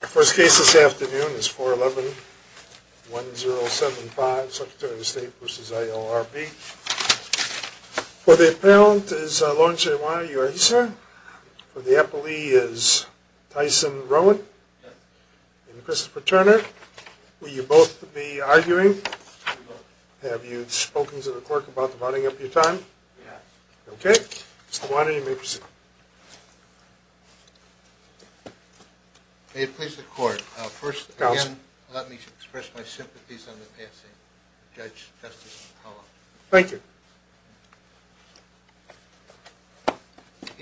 The first case this afternoon is 411-1075, Secretary of State v. ILRB. For the appellant is Lawrence A. Iwana. Are you ready, sir? For the appellee is Tyson Rowan and Christopher Turner. Will you both be arguing? Have you spoken to the clerk about dividing up your time? Okay. Mr. Iwana, you may proceed. May it please the court. First, again, let me express my sympathies on the passing of Judge Justice Powell. Thank you.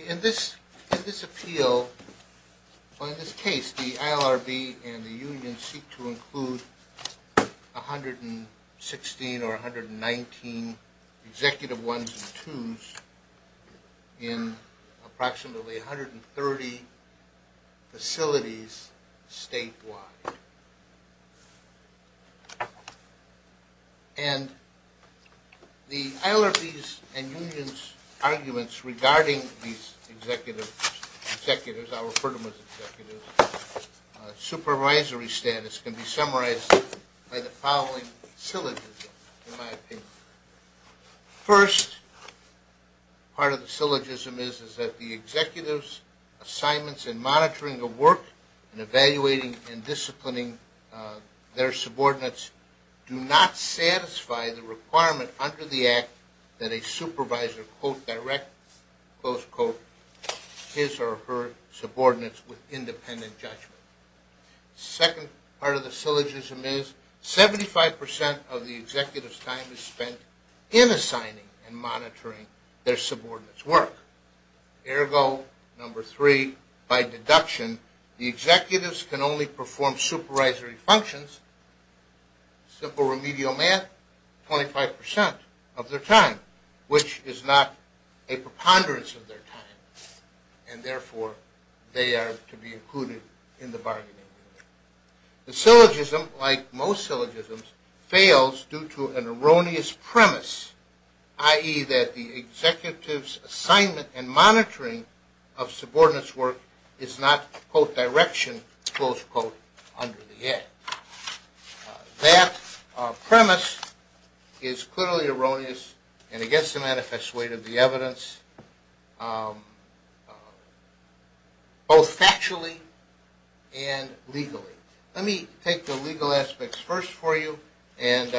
In this appeal, or in this case, the ILRB and the union seek to include 116 or 119 executive ones and twos in approximately 130 facilities statewide. And the ILRB's and union's arguments regarding these executives, I'll refer to them as executives, supervisory status can be summarized by the following syllogism, in my opinion. First, part of the syllogism is that the executive's assignments in monitoring the work and evaluating and disciplining their subordinates do not satisfy the requirement under the act that a supervisor quote, direct, close quote, his or her subordinates with independent judgment. Second part of the syllogism is 75% of the executive's time is spent in assigning and monitoring their subordinates' work. Ergo, number three, by deduction, the executives can only perform supervisory functions, simple remedial math, 25% of their time, which is not a preponderance of their time, and therefore they are to be included in the bargaining agreement. The syllogism, like most syllogisms, fails due to an erroneous premise, i.e. that the executive's assignment and monitoring of subordinates' work is not quote, direction, close quote, under the act. That premise is clearly erroneous and it gets the manifest weight of the evidence both factually and legally. Let me take the legal aspects first for you and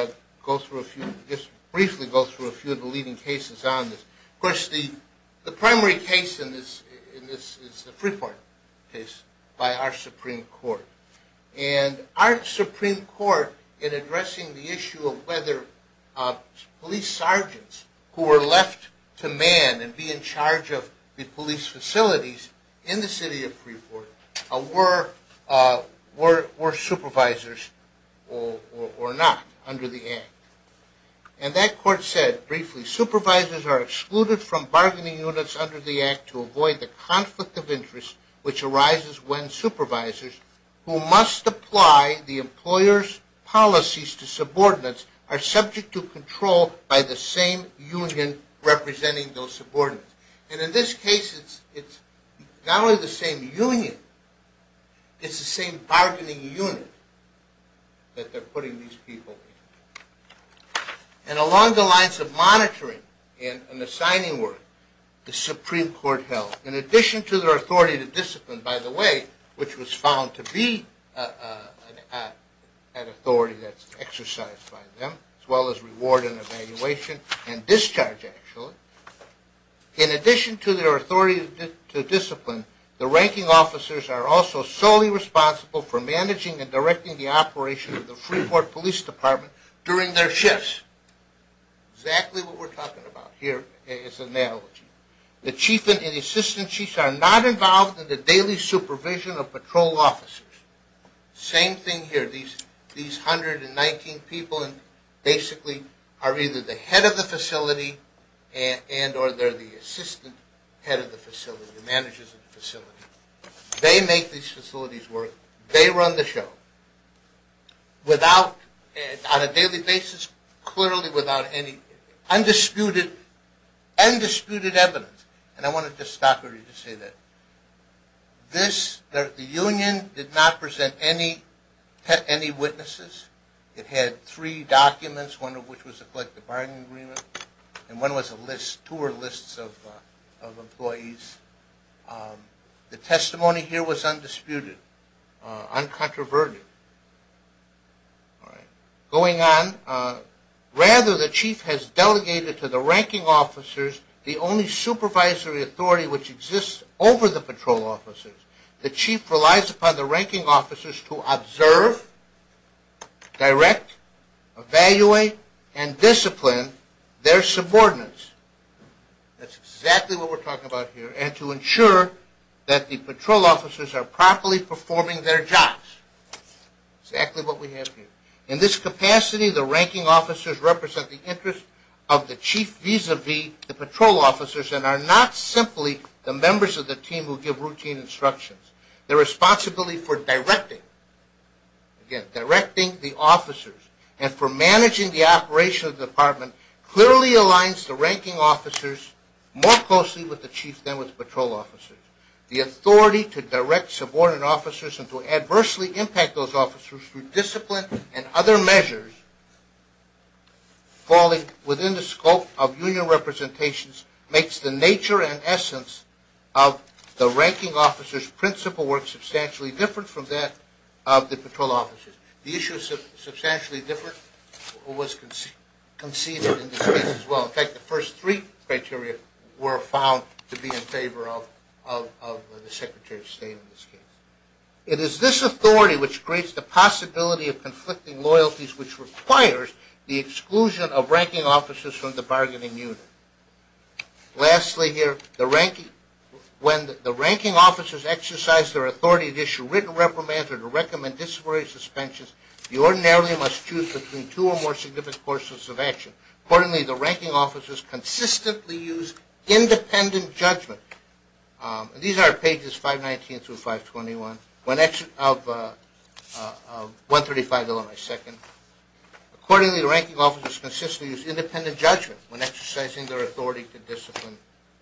go through a few, just briefly go through a few of the leading cases on this. Of course, the primary case in this is the Freeport case by our Supreme Court. And our Supreme Court, in addressing the issue of whether police sergeants who were left to man and be in charge of the police facilities in the city of Freeport were supervisors or not under the act. And that court said, briefly, supervisors are excluded from bargaining units under the act to avoid the conflict of interest which arises when supervisors who must apply the employer's policies to subordinates are subject to control by the same union representing those subordinates. And in this case, it's not only the same union, it's the same bargaining unit that they're putting these people in. And along the lines of monitoring and assigning work, the Supreme Court held, in addition to their authority to discipline, by the way, which was found to be an authority that's exercised by them, as well as reward and evaluation and discharge actually, in addition to their authority to discipline, the ranking officers are also solely responsible for managing and directing the operation of the Freeport Police Department during their shifts. Exactly what we're talking about here as an analogy. The chief and assistant chiefs are not involved in the daily supervision of patrol officers. Same thing here. These 119 people basically are either the head of the facility and or they're the assistant head of the facility, the managers of the facility. They make these facilities work. They run the show without, on a daily basis, clearly without any undisputed evidence. And I want to just stop here to say that the union did not present any witnesses. It had three documents, one of which was a collective bargaining agreement and one was a list, two or lists of employees. The testimony here was undisputed, uncontroverted. Going on, rather the chief has delegated to the ranking officers the only supervisory authority which exists over the patrol officers. The chief relies upon the ranking officers to observe, direct, evaluate, and discipline their subordinates. That's exactly what we're talking about here and to ensure that the patrol officers are properly performing their jobs. Exactly what we have here. In this capacity, the ranking officers represent the interest of the chief vis-a-vis the patrol officers and are not simply the members of the team who give routine instructions. Their responsibility for directing, again, directing the officers and for managing the operation of the department clearly aligns the ranking officers more closely with the chief than with the patrol officers. The authority to direct subordinate officers and to adversely impact those officers through discipline and other measures falling within the scope of union representations makes the nature and essence of the ranking officers' principal work substantially different from that of the patrol officers. The issue is substantially different was conceded in this case as well. In fact, the first three criteria were found to be in favor of the secretary of state in this case. It is this authority which creates the possibility of conflicting loyalties which requires the exclusion of ranking officers from the bargaining unit. Lastly here, when the ranking officers exercise their authority to issue written reprimands or to recommend disciplinary suspensions, you ordinarily must choose between two or more significant courses of action. Accordingly, the ranking officers consistently use independent judgment. These are pages 519 through 521 of 135 Illinois Second. Accordingly, the ranking officers consistently use independent judgment when exercising their authority to discipline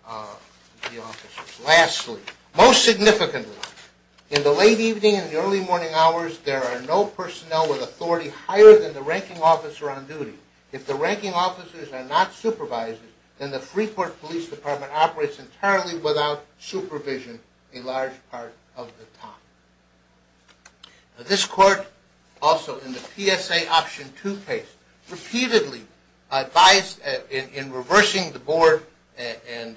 the officers. Lastly, most significantly, in the late evening and early morning hours, there are no personnel with authority higher than the ranking officer on duty. If the ranking officers are not supervised, then the Freeport Police Department operates entirely without supervision a large part of the time. This court also in the PSA Option 2 case repeatedly advised in reversing the board and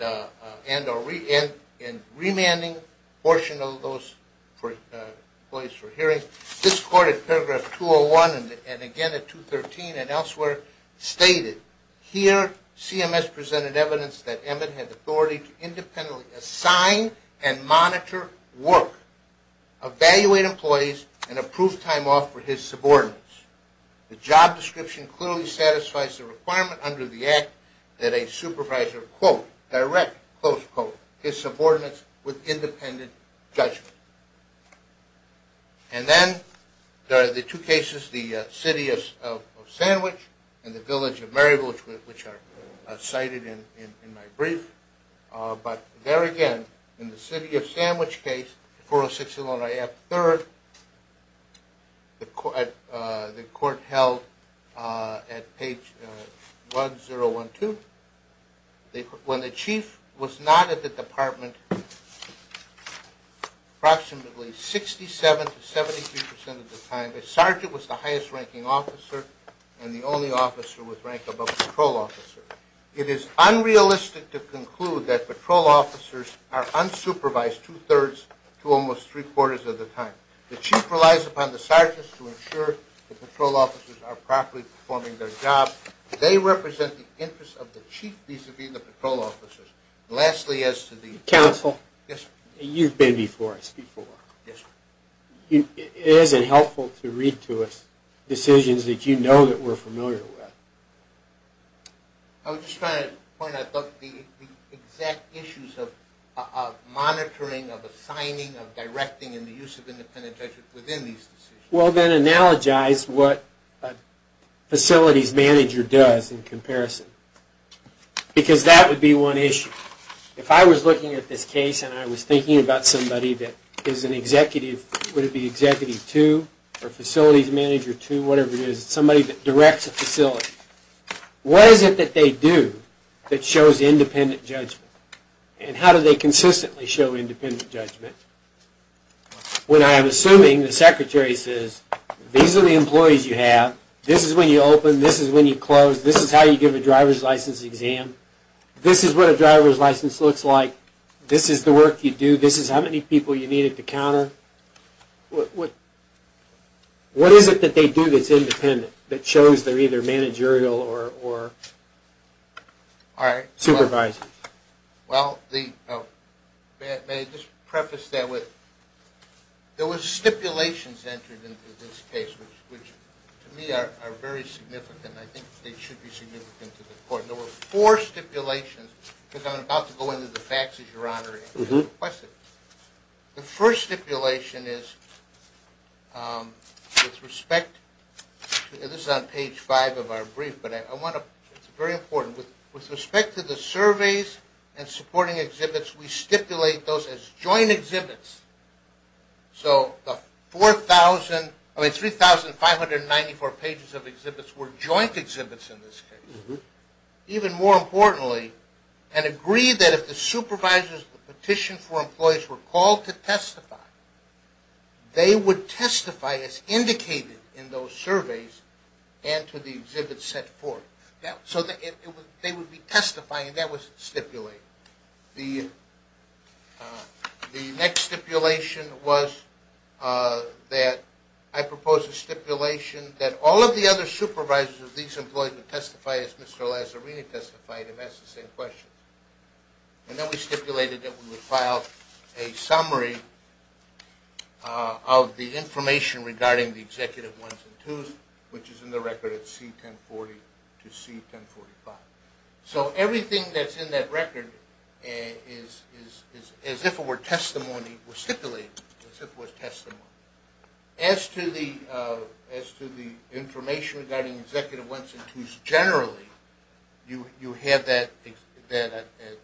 remanding portion of those employees for hearing. This court in paragraph 201 and again in 213 and elsewhere stated, Here CMS presented evidence that Emmett had authority to independently assign and monitor work, evaluate employees, and approve time off for his subordinates. The job description clearly satisfies the requirement under the Act that a supervisor quote, direct, close quote, his subordinates with independent judgment. And then there are the two cases, the City of Sandwich and the Village of Maryville, which are cited in my brief. But there again, in the City of Sandwich case, 406 Illinois Act III, the court held at page 1012, when the chief was not at the department approximately 67 to 73 percent of the time, the sergeant was the highest ranking officer and the only officer with rank above patrol officer. It is unrealistic to conclude that patrol officers are unsupervised two-thirds to almost three-quarters of the time. The chief relies upon the sergeants to ensure the patrol officers are properly performing their job. They represent the interests of the chief vis-a-vis the patrol officers. Lastly, as to the... Counsel. Yes, sir. You've been before us before. Yes, sir. It isn't helpful to read to us decisions that you know that we're familiar with. I was just trying to point out the exact issues of monitoring, of assigning, of directing, and the use of independent judgment within these decisions. Well, then, analogize what a facilities manager does in comparison, because that would be one issue. If I was looking at this case and I was thinking about somebody that is an executive, would it be executive two or facilities manager two, whatever it is, somebody that directs a facility, what is it that they do that shows independent judgment? And how do they consistently show independent judgment? When I am assuming the secretary says, these are the employees you have, this is when you open, this is when you close, this is how you give a driver's license exam, this is what a driver's license looks like, this is the work you do, this is how many people you needed to counter, what is it that they do that's independent, that shows they're either managerial or supervising? Well, may I just preface that with, there was stipulations entered into this case, which to me are very significant. I think they should be significant to the court. There were four stipulations, because I'm about to go into the facts, as your Honor requested. The first stipulation is, with respect to, this is on page five of our brief, but I want to, it's very important, with respect to the surveys and supporting exhibits, we stipulate those as joint exhibits. So the 4,000, I mean 3,594 pages of exhibits were joint exhibits in this case. Even more importantly, and agreed that if the supervisors petitioned for employees were called to testify, they would testify as indicated in those surveys and to the exhibits set forth. So they would be testifying, and that was stipulated. The next stipulation was that I proposed a stipulation that all of the other supervisors of these employees would testify as Mr. Lazzarini testified, and that's the same question. And then we stipulated that we would file a summary of the information regarding the Executive 1s and 2s, which is in the record at C1040 to C1045. So everything that's in that record is, as if it were testimony, was stipulated as if it was testimony. As to the information regarding Executive 1s and 2s generally, you have that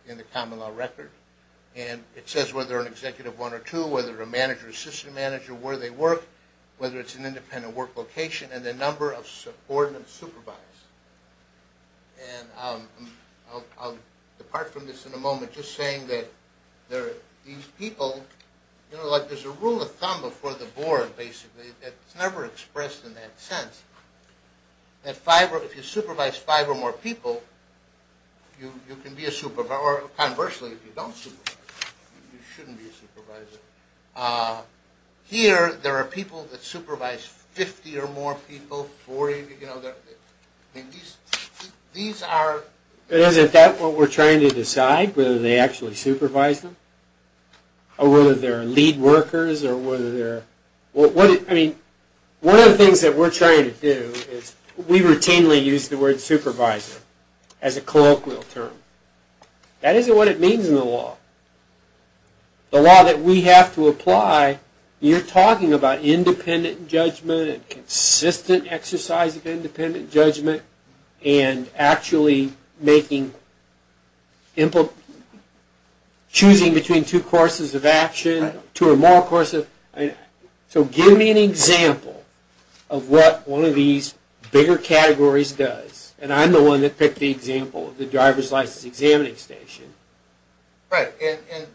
in the common law record, and it says whether an Executive 1 or 2, whether a manager or assistant manager, where they work, whether it's an independent work location, and the number of subordinates supervised. And I'll depart from this in a moment just saying that these people, there's a rule of thumb before the board, basically, that's never expressed in that sense, that if you supervise five or more people, you can be a supervisor. Or conversely, if you don't supervise, you shouldn't be a supervisor. Here, there are people that supervise 50 or more people, 40. And these are... Isn't that what we're trying to decide, whether they actually supervise them, or whether they're lead workers, or whether they're... I mean, one of the things that we're trying to do is, we routinely use the word supervisor as a colloquial term. That isn't what it means in the law. The law that we have to apply, you're talking about independent judgment, and consistent exercise of independent judgment, and actually choosing between two courses of action, two or more courses. So give me an example of what one of these bigger categories does. And I'm the one that picked the example of the driver's license examining station. Right. And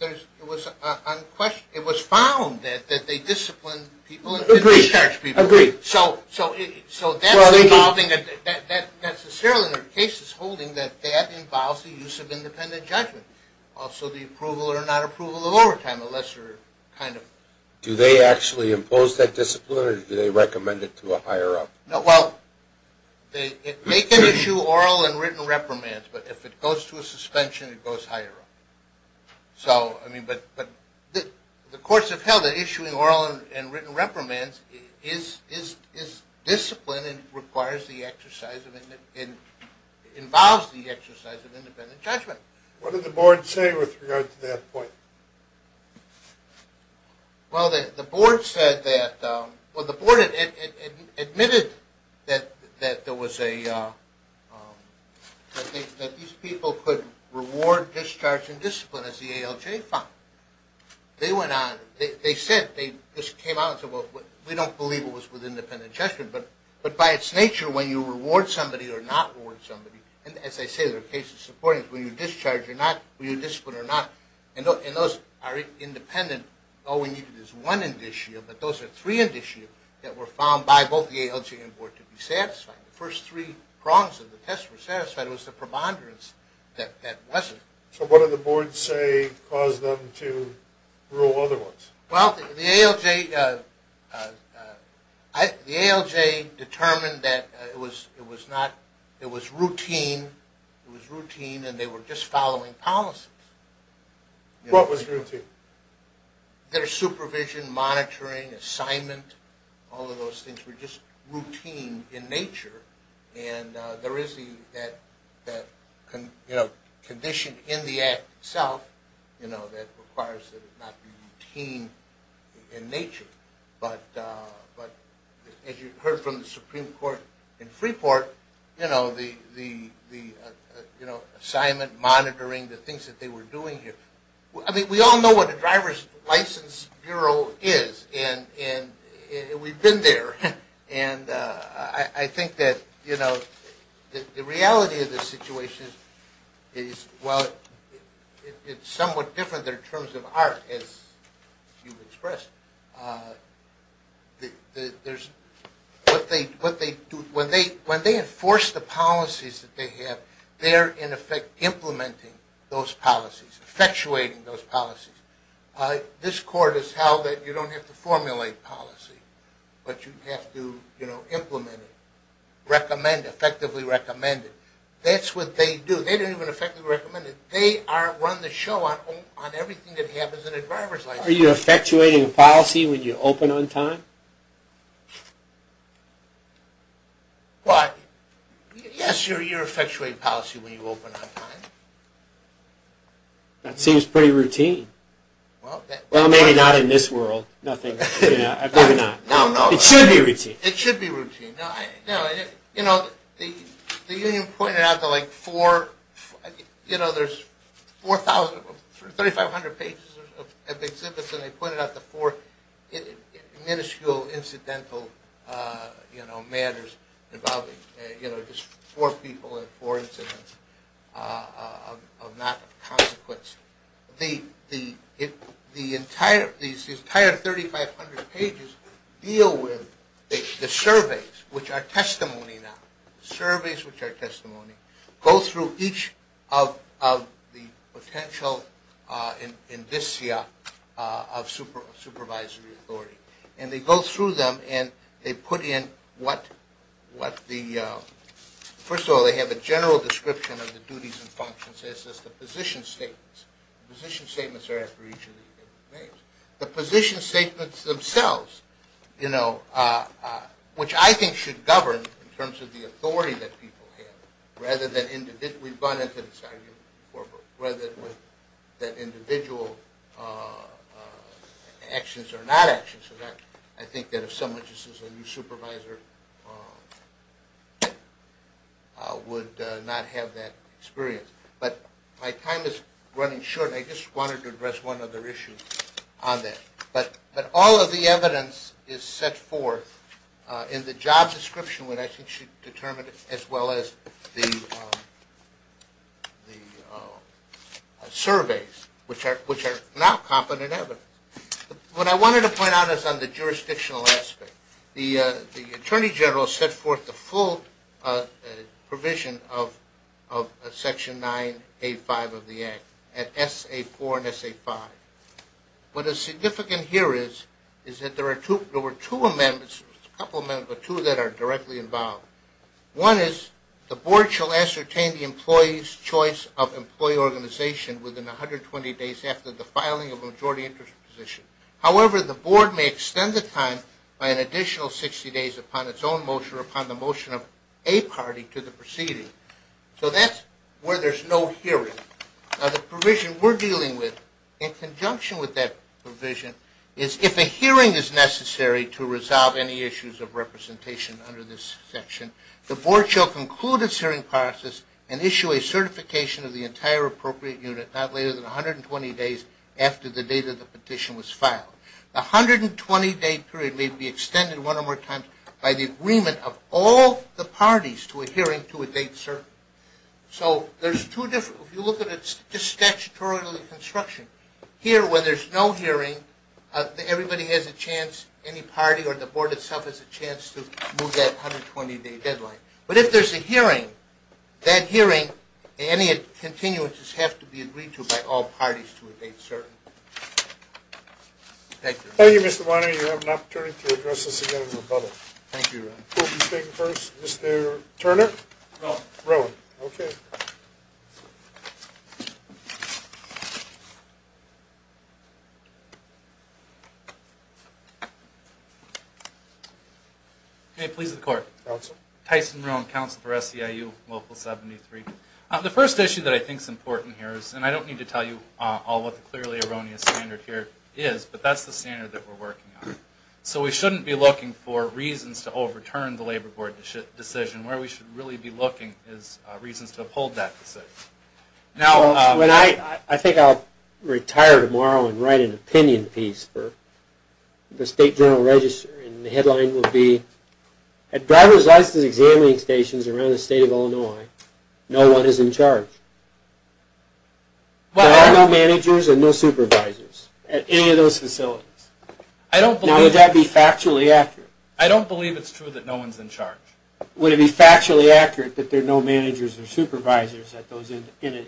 it was found that they discipline people and discharge people. Agreed. Agreed. So that's involving... Well, I mean... Necessarily, there are cases holding that that involves the use of independent judgment. Also, the approval or not approval of overtime, a lesser kind of... Do they actually impose that discipline, or do they recommend it to a higher-up? Well, they can issue oral and written reprimands, but if it goes to a suspension, it goes higher up. So, I mean, but the courts have held that issuing oral and written reprimands is discipline and involves the exercise of independent judgment. What did the board say with regard to that point? Well, the board said that... Well, the board admitted that there was a... that these people could reward, discharge, and discipline, as the ALJ found. They went on, they said, they just came out and said, well, we don't believe it was with independent judgment, but by its nature, when you reward somebody or not reward somebody, and as I say, there are cases supporting it, whether you discharge or not, whether you discipline or not, and those are independent. All we needed is one indicia, but those are three indicia that were found by both the ALJ and board to be satisfied. The first three prongs of the test were satisfied. It was the preponderance that wasn't. So what did the board say caused them to rule otherwise? Well, the ALJ determined that it was not... just following policies. What was routine? Their supervision, monitoring, assignment, all of those things were just routine in nature, and there is that condition in the act itself that requires that it not be routine in nature, but as you heard from the Supreme Court in Freeport, the assignment, monitoring, the things that they were doing here. I mean, we all know what a driver's license bureau is, and we've been there, and I think that the reality of this situation is, well, it's somewhat different there in terms of art, as you expressed. When they enforce the policies that they have, they're in effect implementing those policies, effectuating those policies. This court has held that you don't have to formulate policy, but you have to implement it, recommend it, effectively recommend it. That's what they do. They don't even effectively recommend it. They run the show on everything that happens in a driver's license. Are you effectuating policy when you open on time? Why? Yes, you're effectuating policy when you open on time. That seems pretty routine. Well, maybe not in this world. Nothing. No, no. It should be routine. It should be routine. You know, the union pointed out to like four, you know, there's 4,000, 3,500 pages of exhibits, and they pointed out the four minuscule incidental, you know, matters involving just four people and four incidents of not consequence. The entire 3,500 pages deal with the surveys, which are testimony now, surveys which are testimony, go through each of the potential indicia of supervisory authority. And they go through them, and they put in what the – first of all, they have a general description of the duties and functions as does the position statements. The position statements are after each of the names. The position statements themselves, you know, which I think should govern in terms of the authority that people have, rather than individual – we've gone into this argument before, but rather than individual actions or not actions. I think that if someone just is a new supervisor would not have that experience. But my time is running short, and I just wanted to address one other issue on that. But all of the evidence is set forth in the job description, what I think should determine it, as well as the surveys, which are now competent evidence. What I wanted to point out is on the jurisdictional aspect. The Attorney General set forth the full provision of Section 9A5 of the Act, at S.A. 4 and S.A. 5. What is significant here is that there were two amendments, a couple of amendments, but two that are directly involved. One is the board shall ascertain the employee's choice of employee organization within 120 days after the filing of a majority interest position. However, the board may extend the time by an additional 60 days upon its own motion or upon the motion of a party to the proceeding. So that's where there's no hearing. The provision we're dealing with, in conjunction with that provision, is if a hearing is necessary to resolve any issues of representation under this section, the board shall conclude its hearing process and issue a certification of the entire appropriate unit not later than 120 days after the date of the petition was filed. The 120-day period may be extended one or more times by the agreement of all the parties to a hearing to a date certain. So there's two different, if you look at it, just statutorily construction. Here, when there's no hearing, everybody has a chance, any party or the board itself, has a chance to move that 120-day deadline. But if there's a hearing, that hearing and any continuances have to be agreed to by all parties to a date certain. Thank you. Thank you, Mr. Weiner. You have an opportunity to address us again in the public. Thank you. Who will be speaking first? No. No. Okay. May it please the Court. Counsel. Tyson Marone, Counsel for SEIU Local 73. The first issue that I think is important here is, and I don't need to tell you all what the clearly erroneous standard here is, but that's the standard that we're working on. So we shouldn't be looking for reasons to overturn the Labor Board decision. Where we should really be looking is reasons to uphold that decision. I think I'll retire tomorrow and write an opinion piece for the State Journal Register, and the headline will be, At driver's license examining stations around the state of Illinois, no one is in charge. There are no managers and no supervisors at any of those facilities. Now, would that be factually accurate? I don't believe it's true that no one's in charge. Would it be factually accurate that there are no managers or supervisors at those entities?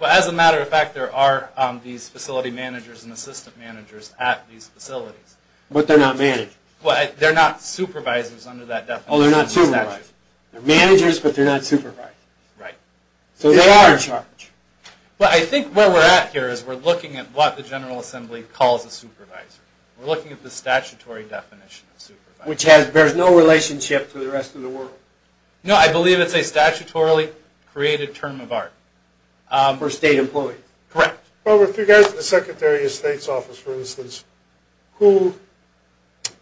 Well, as a matter of fact, there are these facility managers and assistant managers at these facilities. But they're not managers. Well, they're not supervisors under that definition. Oh, they're not supervisors. They're managers, but they're not supervisors. Right. So they are in charge. Well, I think where we're at here is we're looking at what the General Assembly calls a supervisor. We're looking at the statutory definition of supervisor. Which bears no relationship to the rest of the world. No, I believe it's a statutorily created term of art. For state employees. Correct. Robert, if you go to the Secretary of State's office, for instance, who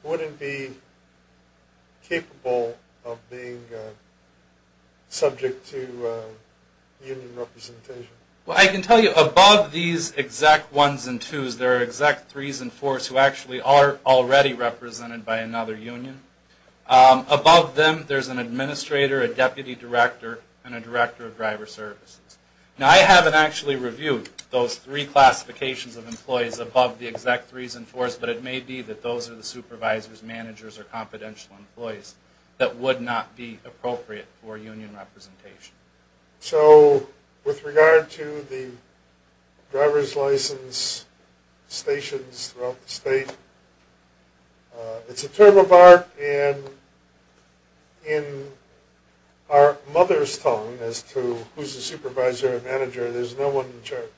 wouldn't be capable of being subject to union representation? Well, I can tell you, above these exact ones and twos, there are exact threes and fours who actually are already represented by another union. Above them, there's an administrator, a deputy director, and a director of driver services. Now, I haven't actually reviewed those three classifications of employees above the exact threes and fours, but it may be that those are the supervisors, managers, or confidential employees that would not be appropriate for union representation. So with regard to the driver's license stations throughout the state, it's a term of art. And in our mother's tongue as to who's the supervisor or manager, there's no one in charge.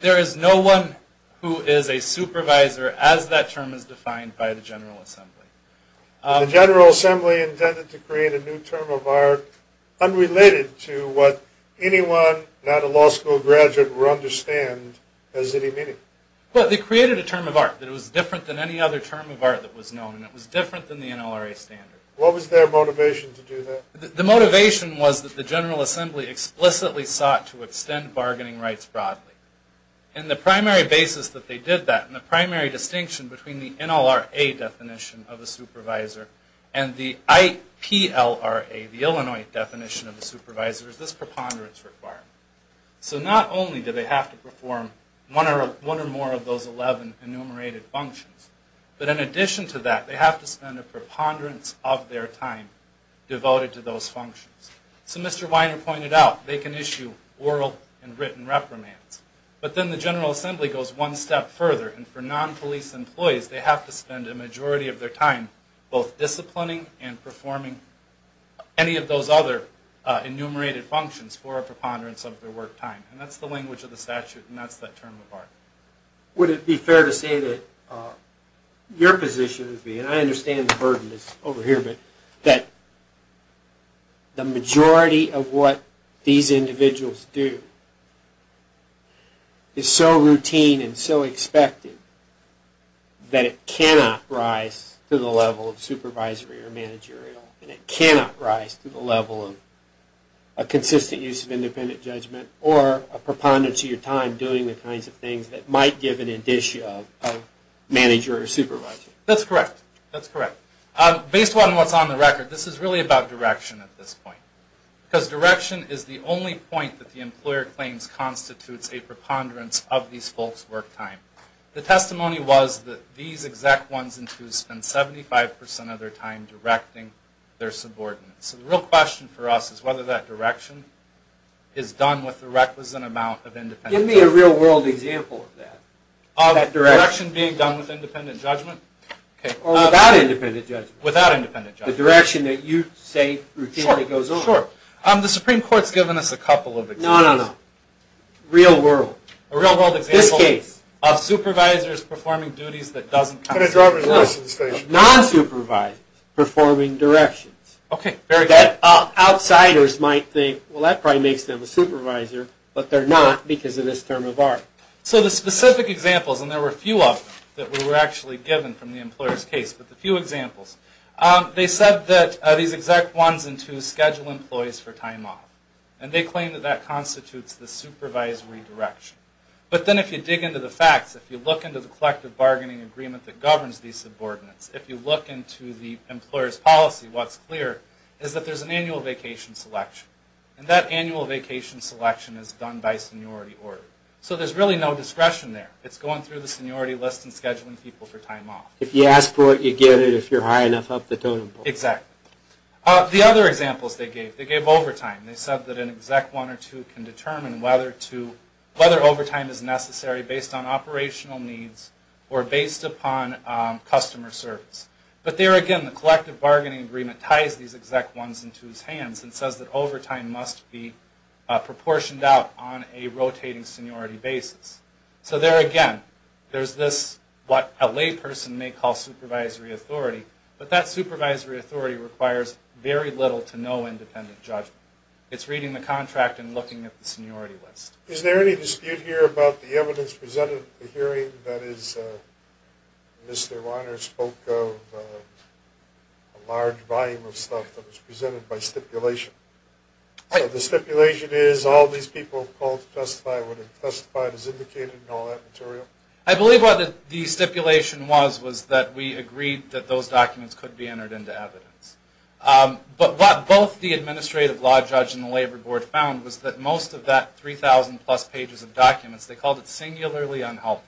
There is no one who is a supervisor as that term is defined by the General Assembly. The General Assembly intended to create a new term of art unrelated to what anyone, not a law school graduate, would understand as any meaning. Well, they created a term of art that was different than any other term of art that was known. It was different than the NLRA standard. What was their motivation to do that? The motivation was that the General Assembly explicitly sought to extend bargaining rights broadly. And the primary basis that they did that, and the primary distinction between the NLRA definition of a supervisor and the IPLRA, the Illinois definition of a supervisor, is this preponderance requirement. So not only do they have to perform one or more of those 11 enumerated functions, but in addition to that, they have to spend a preponderance of their time devoted to those functions. So Mr. Weiner pointed out they can issue oral and written reprimands. But then the General Assembly goes one step further. And for non-police employees, they have to spend a majority of their time both disciplining and performing any of those other enumerated functions for a preponderance of their work time. And that's the language of the statute, and that's that term of art. Would it be fair to say that your position would be, and I understand the burden that's over here, but that the majority of what these individuals do is so routine and so expected that it cannot rise to the level of supervisory or managerial, and it cannot rise to the level of a consistent use of independent judgment or a preponderance of your time doing the kinds of things that might give an indicia of manager or supervisor? That's correct. That's correct. Based on what's on the record, this is really about direction at this point. Because direction is the only point that the employer claims constitutes a preponderance of these folks' work time. The testimony was that these exact ones and twos spend 75% of their time directing their subordinates. So the real question for us is whether that direction is done with the requisite amount of independent judgment. Give me a real world example of that. Of direction being done with independent judgment? Or without independent judgment. Without independent judgment. The direction that you say routinely goes over. Sure, sure. The Supreme Court's given us a couple of examples. No, no, no. Real world. A real world example of supervisors performing duties that doesn't constitute a preponderance. Non-supervisors performing directions. Very good. Outsiders might think, well that probably makes them a supervisor, but they're not because of this term of art. So the specific examples, and there were a few of them that were actually given from the employer's case, but the few examples, they said that these exact ones and twos schedule employees for time off. And they claim that that constitutes the supervisory direction. But then if you dig into the facts, if you look into the collective bargaining agreement that governs these subordinates, if you look into the employer's policy, what's clear is that there's an annual vacation selection. And that annual vacation selection is done by seniority order. So there's really no discretion there. It's going through the seniority list and scheduling people for time off. If you ask for it, you get it. If you're high enough, up the totem pole. Exactly. The other examples they gave, they gave overtime. They said that an exec one or two can determine whether overtime is necessary based on operational needs or based upon customer service. But there again, the collective bargaining agreement ties these exec ones and twos hands and says that overtime must be proportioned out on a rotating seniority basis. So there again, there's this, what a layperson may call supervisory authority, but that supervisory authority requires very little to no independent judgment. It's reading the contract and looking at the seniority list. Is there any dispute here about the evidence presented at the hearing? That is, Mr. Weiner spoke of a large volume of stuff that was presented by stipulation. So the stipulation is all these people called to testify would have testified as indicated in all that material? I believe what the stipulation was was that we agreed that those documents could be entered into evidence. But what both the administrative law judge and the labor board found was that most of that 3,000-plus pages of documents, they called it singularly unhelpful.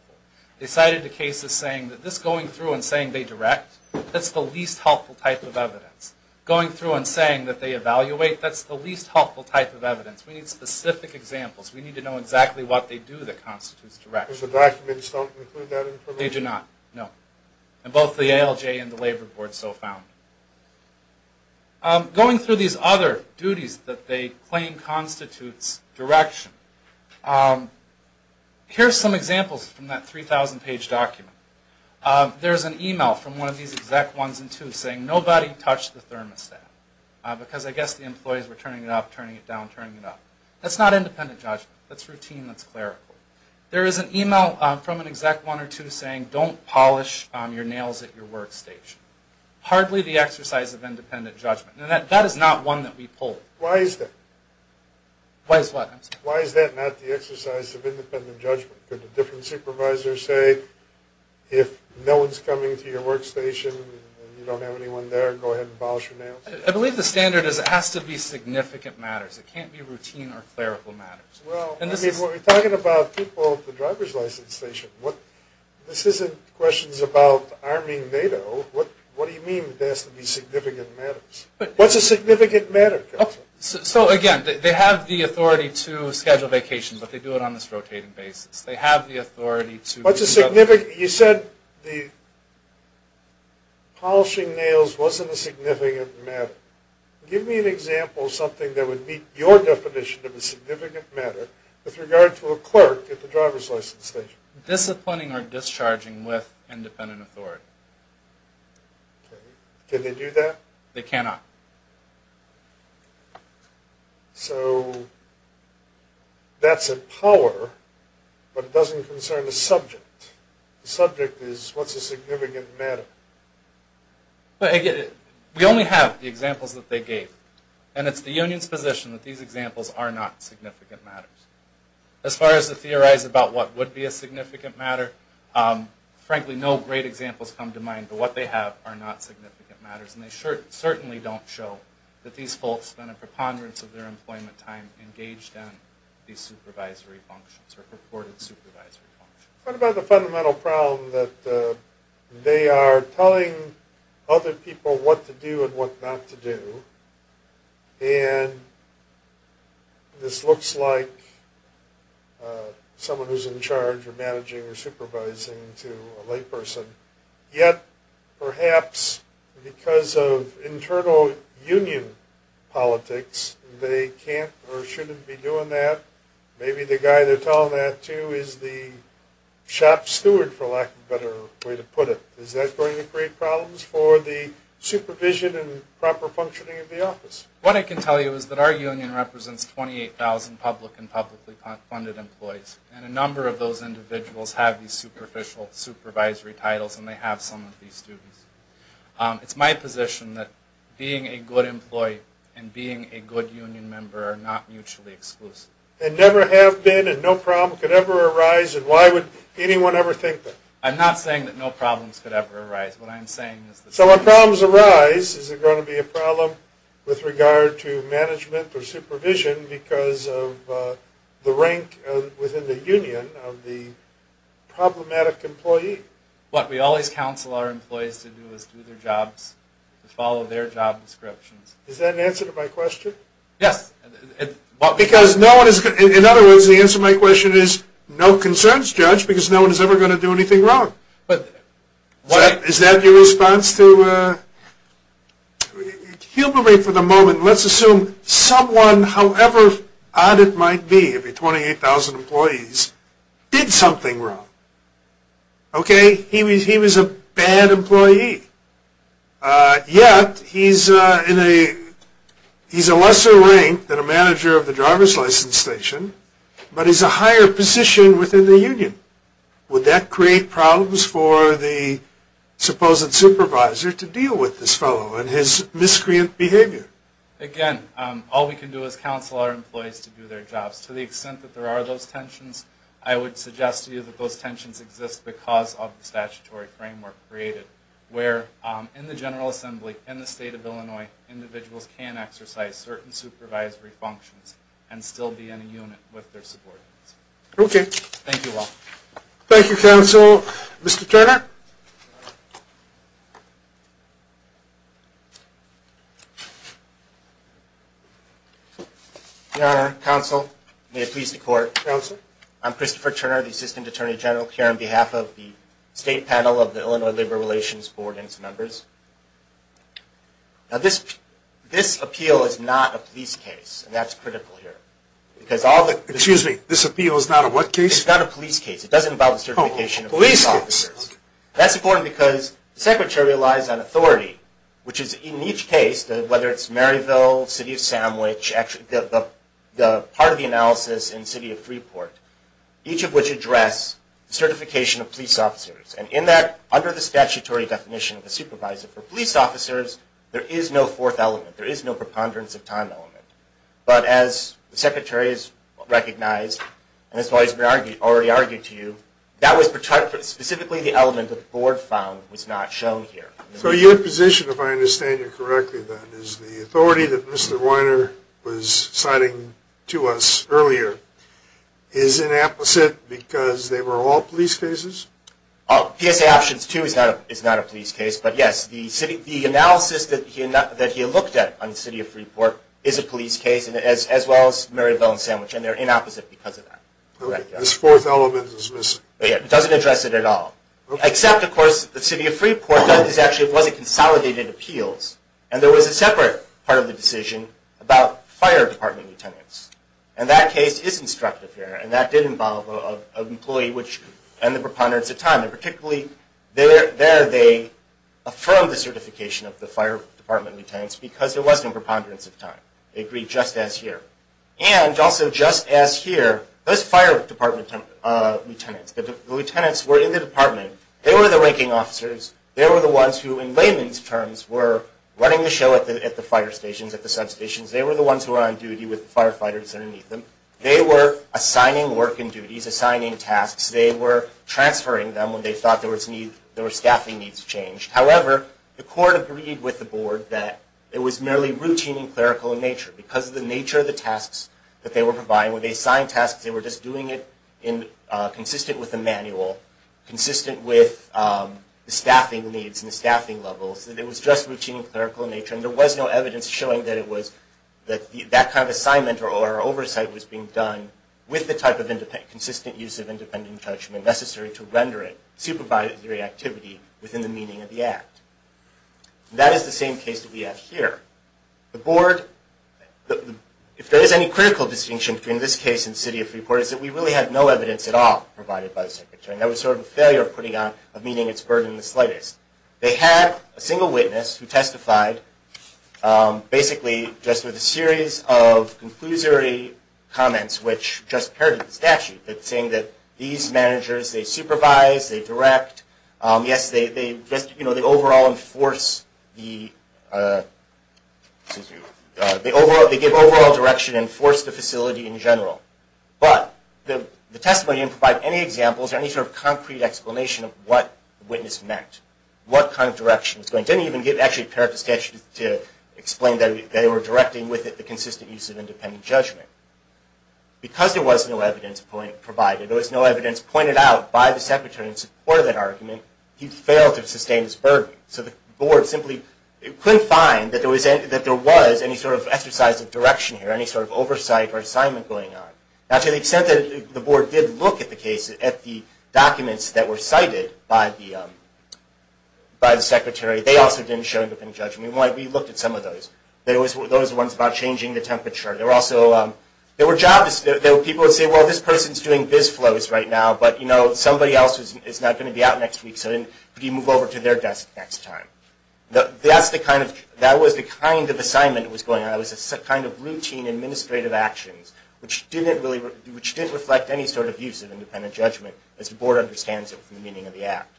They cited the cases saying that this going through and saying they direct, that's the least helpful type of evidence. Going through and saying that they evaluate, that's the least helpful type of evidence. We need specific examples. We need to know exactly what they do that constitutes direct. Because the documents don't include that information? They do not, no. And both the ALJ and the labor board so found. Going through these other duties that they claim constitutes direction, here are some examples from that 3,000-page document. There's an e-mail from one of these exec 1s and 2s saying, nobody touch the thermostat because I guess the employees were turning it up, turning it down, turning it up. That's not independent judgment. That's routine. That's clerical. There is an e-mail from an exec 1 or 2 saying don't polish your nails at your workstation. Hardly the exercise of independent judgment. And that is not one that we pulled. Why is that? Why is what? Why is that not the exercise of independent judgment? Could a different supervisor say if no one's coming to your workstation and you don't have anyone there, go ahead and polish your nails? I believe the standard is it has to be significant matters. It can't be routine or clerical matters. Well, I mean, we're talking about people with a driver's license station. This isn't questions about arming NATO. What do you mean it has to be significant matters? What's a significant matter? So, again, they have the authority to schedule vacations, but they do it on this rotating basis. They have the authority to do other things. You said the polishing nails wasn't a significant matter. Give me an example of something that would meet your definition of a significant matter with regard to a clerk at the driver's license station. Disciplining or discharging with independent authority. Can they do that? They cannot. So that's a power, but it doesn't concern the subject. The subject is what's a significant matter? We only have the examples that they gave, and it's the union's position that these examples are not significant matters. As far as to theorize about what would be a significant matter, frankly, no great examples come to mind, but what they have are not significant matters, and they certainly don't show that these folks spent a preponderance of their employment time engaged in these supervisory functions or purported supervisory functions. What about the fundamental problem that they are telling other people what to do and what not to do, and this looks like someone who's in charge of managing or supervising to a layperson, yet perhaps because of internal union politics, they can't or shouldn't be doing that. Maybe the guy they're telling that to is the shop steward, for lack of a better way to put it. Is that going to create problems for the supervision and proper functioning of the office? What I can tell you is that our union represents 28,000 public and publicly funded employees, and a number of those individuals have these supervisory titles, and they have some of these duties. It's my position that being a good employee and being a good union member are not mutually exclusive. And never have been and no problem could ever arise, and why would anyone ever think that? I'm not saying that no problems could ever arise. What I'm saying is that... So when problems arise, is it going to be a problem with regard to management or supervision because of the rank within the union of the problematic employee? What we always counsel our employees to do is do their jobs and follow their job descriptions. Is that an answer to my question? Yes. Because in other words, the answer to my question is no concerns, Judge, because no one is ever going to do anything wrong. Is that your response to... Humiliate for the moment. Let's assume someone, however odd it might be, every 28,000 employees, did something wrong. Okay? He was a bad employee. Yet, he's a lesser rank than a manager of the driver's license station, but he's a higher position within the union. Would that create problems for the supposed supervisor to deal with this fellow and his miscreant behavior? Again, all we can do is counsel our employees to do their jobs. To the extent that there are those tensions, I would suggest to you that those tensions exist because of the statutory framework created where in the General Assembly, in the State of Illinois, individuals can exercise certain supervisory functions and still be in a unit with their subordinates. Okay. Thank you all. Thank you, Counsel. Mr. Turner? Your Honor, Counsel, may it please the Court. Counsel. I'm Christopher Turner, the Assistant Attorney General, here on behalf of the State Panel of the Illinois Labor Relations Board and its members. Now, this appeal is not a police case, and that's critical here. Excuse me. This appeal is not a what case? It's not a police case. It doesn't involve the certification of police officers. That's important because the Secretary relies on authority, which is in each case, whether it's Maryville, City of Sandwich, the part of the analysis in City of Freeport, each of which address the certification of police officers. And in that, under the statutory definition of a supervisor for police officers, there is no fourth element. There is no preponderance of time element. But as the Secretary has recognized, and has already argued to you, that was specifically the element that the Board found was not shown here. So your position, if I understand you correctly, then, which is the authority that Mr. Weiner was citing to us earlier, is inapplicable because they were all police cases? PSA Options 2 is not a police case. But, yes, the analysis that he looked at on City of Freeport is a police case, as well as Maryville and Sandwich, and they're inapplicable because of that. Okay. This fourth element is missing. It doesn't address it at all. Except, of course, the City of Freeport actually was a consolidated appeals, and there was a separate part of the decision about fire department lieutenants. And that case is instructive here, and that did involve an employee and the preponderance of time. And particularly, there they affirmed the certification of the fire department lieutenants because there was no preponderance of time. They agreed just as here. And also just as here, those fire department lieutenants, the lieutenants were in the department. They were the ranking officers. They were the ones who, in layman's terms, were running the show at the fire stations, at the substations. They were the ones who were on duty with the firefighters underneath them. They were assigning work and duties, assigning tasks. They were transferring them when they thought there were staffing needs changed. However, the court agreed with the board that it was merely routine and clerical in nature. Because of the nature of the tasks that they were providing, when they assigned tasks, they were just doing it consistent with the manual, consistent with the staffing needs and the staffing levels, that it was just routine and clerical in nature. And there was no evidence showing that that kind of assignment or oversight was being done with the type of consistent use of independent judgment necessary to render it supervisory activity within the meaning of the act. And that is the same case that we have here. The board, if there is any critical distinction between this case and the city of Freeport, is that we really had no evidence at all provided by the secretary. And that was sort of a failure of putting on, of meeting its burden the slightest. They had a single witness who testified basically just with a series of conclusory comments which just parroted the statute, saying that these managers, they supervise, they direct. Yes, they overall enforce the, excuse me, they give overall direction and enforce the facility in general. But the testimony didn't provide any examples or any sort of concrete explanation of what the witness meant, what kind of direction it was going. It didn't even actually parrot the statute to explain that they were directing with it the consistent use of independent judgment. Because there was no evidence provided, there was no evidence pointed out by the secretary in support of that argument, he failed to sustain his burden. So the board simply couldn't find that there was any sort of exercise of direction here, any sort of oversight or assignment going on. Now to the extent that the board did look at the case, at the documents that were cited by the secretary, they also didn't show independent judgment. We looked at some of those. There was those ones about changing the temperature. There were also, there were jobs, there were people who would say, well, this person is doing this flows right now, but you know, somebody else is not going to be out next week, so you move over to their desk next time. That's the kind of, that was the kind of assignment that was going on. It was a kind of routine administrative actions, which didn't reflect any sort of use of independent judgment, as the board understands it from the meaning of the act.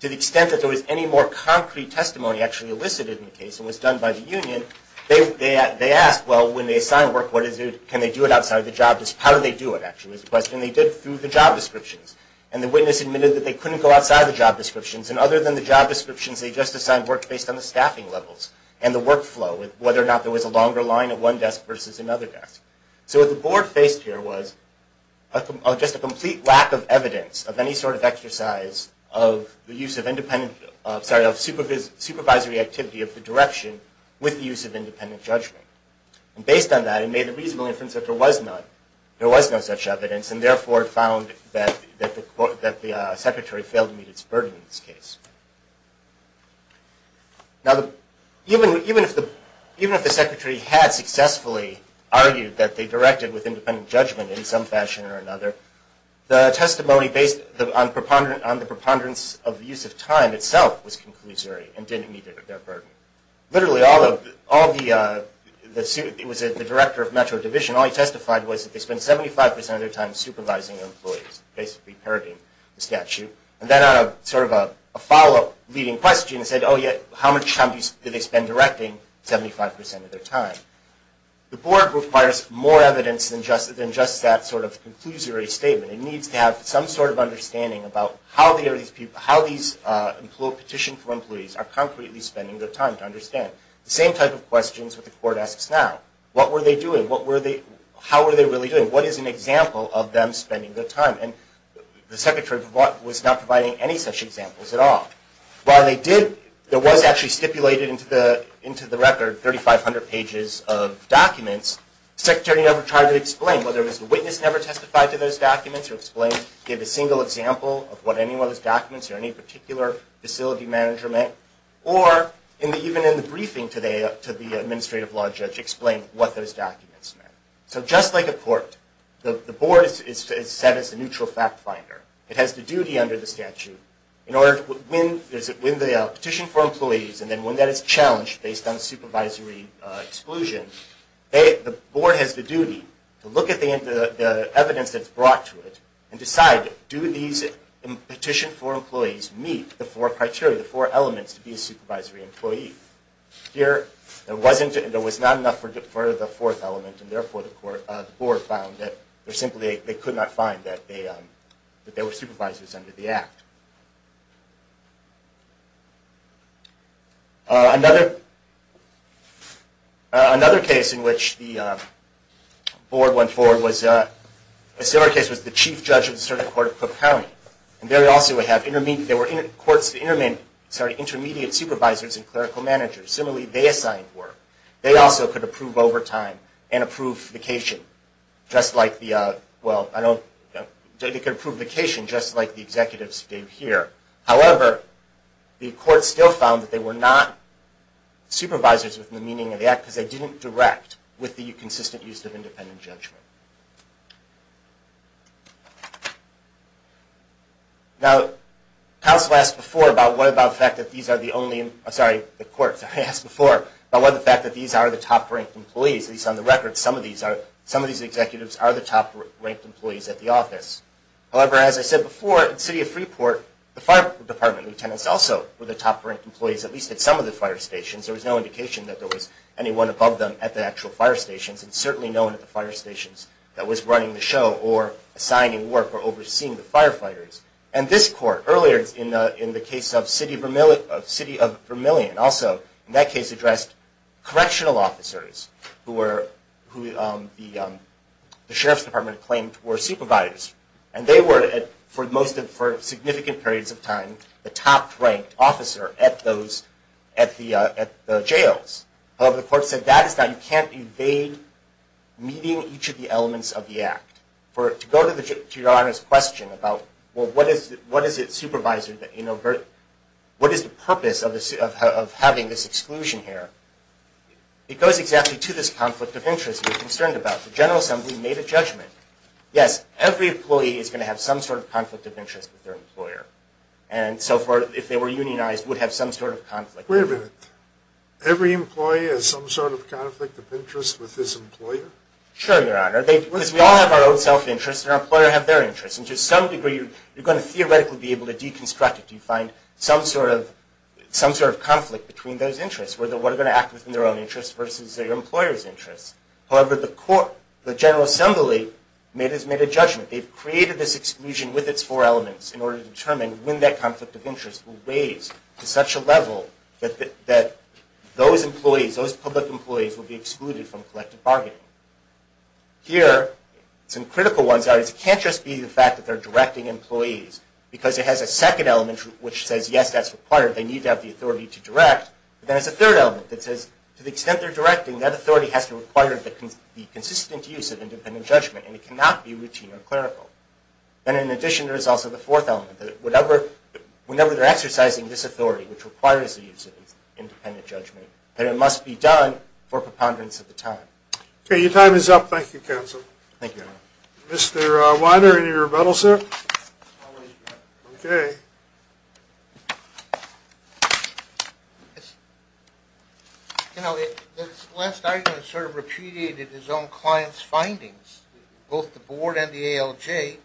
To the extent that there was any more concrete testimony actually elicited in the case, and was done by the union, they asked, well, when they assign work, what is it, can they do it outside of the job description, how do they do it, actually, is the question. And they did it through the job descriptions. And the witness admitted that they couldn't go outside the job descriptions, and other than the job descriptions, they just assigned work based on the staffing levels and the workflow, whether or not there was a longer line at one desk versus another desk. So what the board faced here was just a complete lack of evidence of any sort of exercise of the use of independent, sorry, of supervisory activity of the direction with the use of independent judgment. And based on that, it made the reasonable inference that there was none, such evidence, and therefore found that the secretary failed to meet its burden in this case. Now, even if the secretary had successfully argued that they directed with independent judgment in some fashion or another, the testimony based on the preponderance of the use of time itself was conclusory and didn't meet their burden. Literally all of the, it was the director of metro division, all he testified was that they spent 75% of their time supervising their employees, basically parroting the statute. And then sort of a follow-up leading question said, oh yeah, how much time did they spend directing 75% of their time? The board requires more evidence than just that sort of conclusory statement. It needs to have some sort of understanding about how these petitioned employees are concretely spending their time to understand. The same type of questions that the court asks now. What were they doing? What were they, how were they really doing? What is an example of them spending their time? And the secretary was not providing any such examples at all. While they did, there was actually stipulated into the record 3,500 pages of documents. The secretary never tried to explain whether it was the witness never testified to those documents or explained, gave a single example of what any of those documents or any particular facility manager meant. Or even in the briefing today to the administrative law judge, explained what those documents meant. So just like a court, the board is set as a neutral fact finder. It has the duty under the statute in order to win the petition for employees and then when that is challenged based on supervisory exclusion, the board has the duty to look at the evidence that's brought to it and decide do these petition for employees meet the four criteria, the four elements to be a supervisory employee. Here, there was not enough for the fourth element and therefore the board found that they simply could not find that they were supervisors under the act. Another case in which the board went forward was, a similar case was the Chief Judge of the Circuit Court of Cook County. There also were intermediate supervisors and clerical managers. Similarly, they assigned work. They also could approve overtime and approve vacation just like the executives did here. However, the court still found that they were not supervisors within the meaning of the act because they didn't direct with the consistent use of independent judgment. Now, counsel asked before about what about the fact that these are the only, sorry, the court asked before about what the fact that these are the top-ranked employees. At least on the record, some of these executives are the top-ranked employees at the office. However, as I said before, in the city of Freeport, the fire department lieutenants also were the top-ranked employees, at least at some of the fire stations. There was no indication that there was anyone above them at the actual fire stations and certainly no one at the fire stations themselves. that was running the show or assigning work or overseeing the firefighters. And this court, earlier in the case of the city of Vermillion, also in that case addressed correctional officers, who the sheriff's department claimed were supervisors. And they were, for significant periods of time, the top-ranked officer at the jails. However, the court said that is not, you can't evade meeting each of the elements of the act. To go to your Honor's question about, well, what is it, supervisor, what is the purpose of having this exclusion here? It goes exactly to this conflict of interest you're concerned about. The General Assembly made a judgment. Yes, every employee is going to have some sort of conflict of interest with their employer. And so far, if they were unionized, would have some sort of conflict. Wait a minute. Every employee has some sort of conflict of interest with his employer? Sure, Your Honor. We all have our own self-interests and our employers have their interests. And to some degree, you're going to theoretically be able to deconstruct it if you find some sort of conflict between those interests, whether they're going to act within their own interests versus their employer's interests. However, the General Assembly has made a judgment. They've created this exclusion with its four elements in order to determine how to win that conflict of interest raised to such a level that those employees, those public employees will be excluded from collective bargaining. Here, some critical ones are it can't just be the fact that they're directing employees because it has a second element which says, yes, that's required. They need to have the authority to direct. Then there's a third element that says, to the extent they're directing, that authority has to require the consistent use of independent judgment, and it cannot be routine or clerical. And in addition, there's also the fourth element that whenever they're exercising this authority, which requires the use of independent judgment, that it must be done for preponderance of the time. Okay, your time is up. Thank you, Counsel. Thank you, Your Honor. Mr. Weiner, any rebuttal, sir? I'll raise my hand. You know, this last argument sort of repudiated his own client's findings, both the board and the ALJ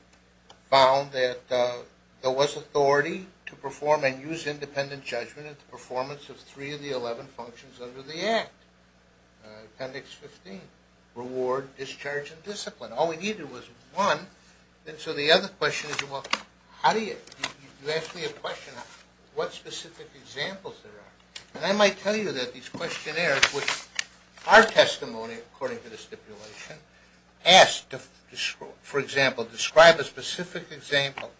found that there was authority to perform and use independent judgment at the performance of three of the 11 functions under the Act, Appendix 15, reward, discharge, and discipline. All we needed was one, and so the other question is, well, how do you? You asked me a question, what specific examples there are? And I might tell you that these questionnaires, which are testimony, according to the stipulation, ask to, for example, describe a specific example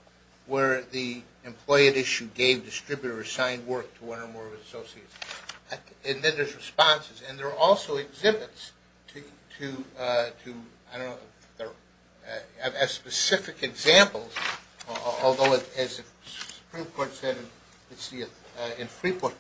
where the employee at issue gave, distributed, or assigned work to one or more of his associates. And then there's responses. And there are also exhibits to, I don't know, specific examples, although as the Supreme Court said in Freeport,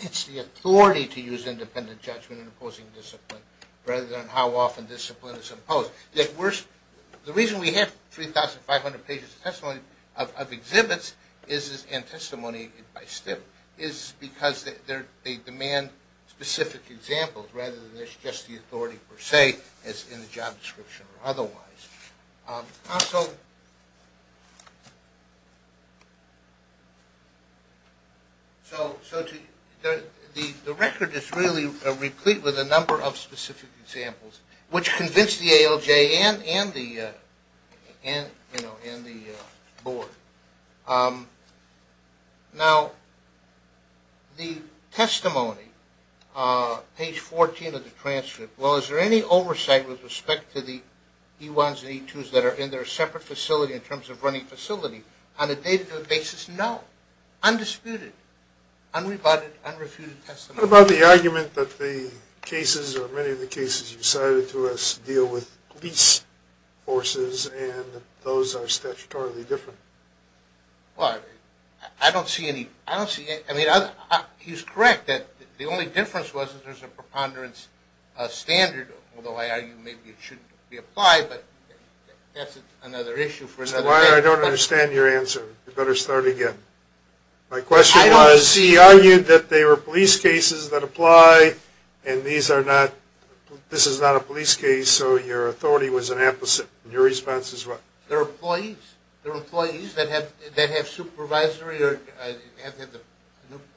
it's the authority to use independent judgment in opposing discipline rather than how often discipline is opposed. The reason we have 3,500 pages of testimony of exhibits and testimony by stip is because they demand specific examples rather than there's just the authority per se as in the job description or otherwise. Also, the record is really replete with a number of specific examples, which convince the ALJ and the Board. Now, the testimony, page 14 of the transcript, well, is there any oversight with respect to the E-1s and E-2s that are in their separate facility in terms of running facility? On a day-to-day basis, no, undisputed, unrebutted, unrefuted testimony. What about the argument that the cases or many of the cases you cited to us deal with police forces and those are statutorily different? Well, I don't see any. I don't see any. I mean, he's correct that the only difference was that there's a preponderance standard, although I argue maybe it shouldn't be applied, but that's another issue for another day. That's why I don't understand your answer. You better start again. My question was he argued that they were police cases that apply and this is not a police case, so your authority was an opposite. Your response is what? They're employees. They're employees that have supervisory.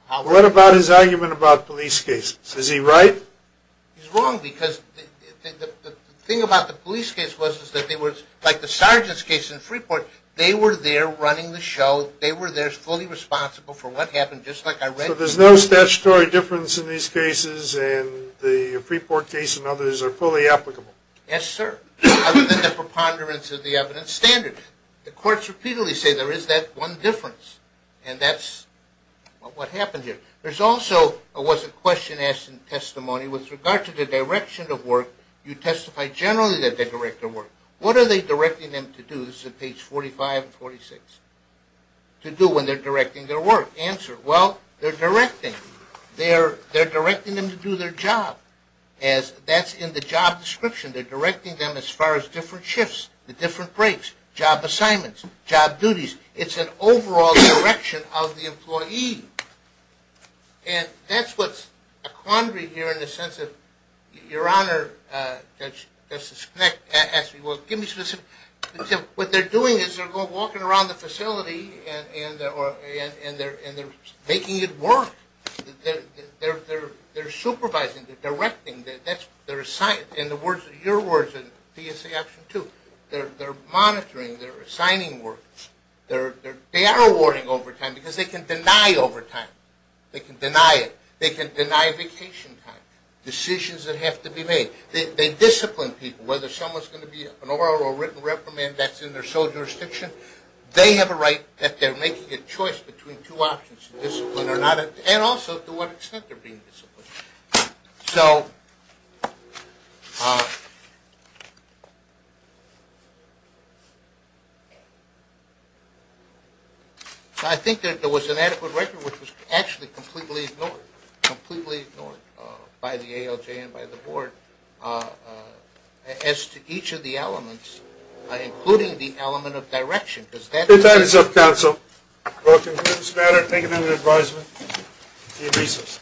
What about his argument about police cases? Is he right? He's wrong because the thing about the police case was that they were, like the sergeant's case in Freeport, they were there running the show. They were there fully responsible for what happened, just like I read. So there's no statutory difference in these cases and the Freeport case and others are fully applicable? Yes, sir. Other than the preponderance of the evidence standard. The courts repeatedly say there is that one difference and that's what happened here. There's also was a question asked in testimony with regard to the direction of work. You testified generally that they direct their work. What are they directing them to do? This is at page 45 and 46. To do when they're directing their work. Answer, well, they're directing. They're directing them to do their job as that's in the job description. They're directing them as far as different shifts, the different breaks, job assignments, job duties. It's an overall direction of the employee. And that's what's a quandary here in the sense of, Your Honor, Justice Knecht asked me, well, give me specifics. What they're doing is they're walking around the facility and they're making it work. They're supervising. They're directing. In your words in PSA Option 2, they're monitoring. They're assigning work. They are awarding overtime because they can deny overtime. They can deny it. They can deny vacation time. Decisions that have to be made. They discipline people. Whether someone's going to be an oral or written reprimand that's in their sole jurisdiction, they have a right that they're making a choice between two options. Discipline or not. And also to what extent they're being disciplined. So, I think that there was an adequate record which was actually completely ignored, completely ignored by the ALJ and by the Board as to each of the elements, including the element of direction. If that is of counsel, we'll conclude this matter. Thank you for your advisement. See you in recess.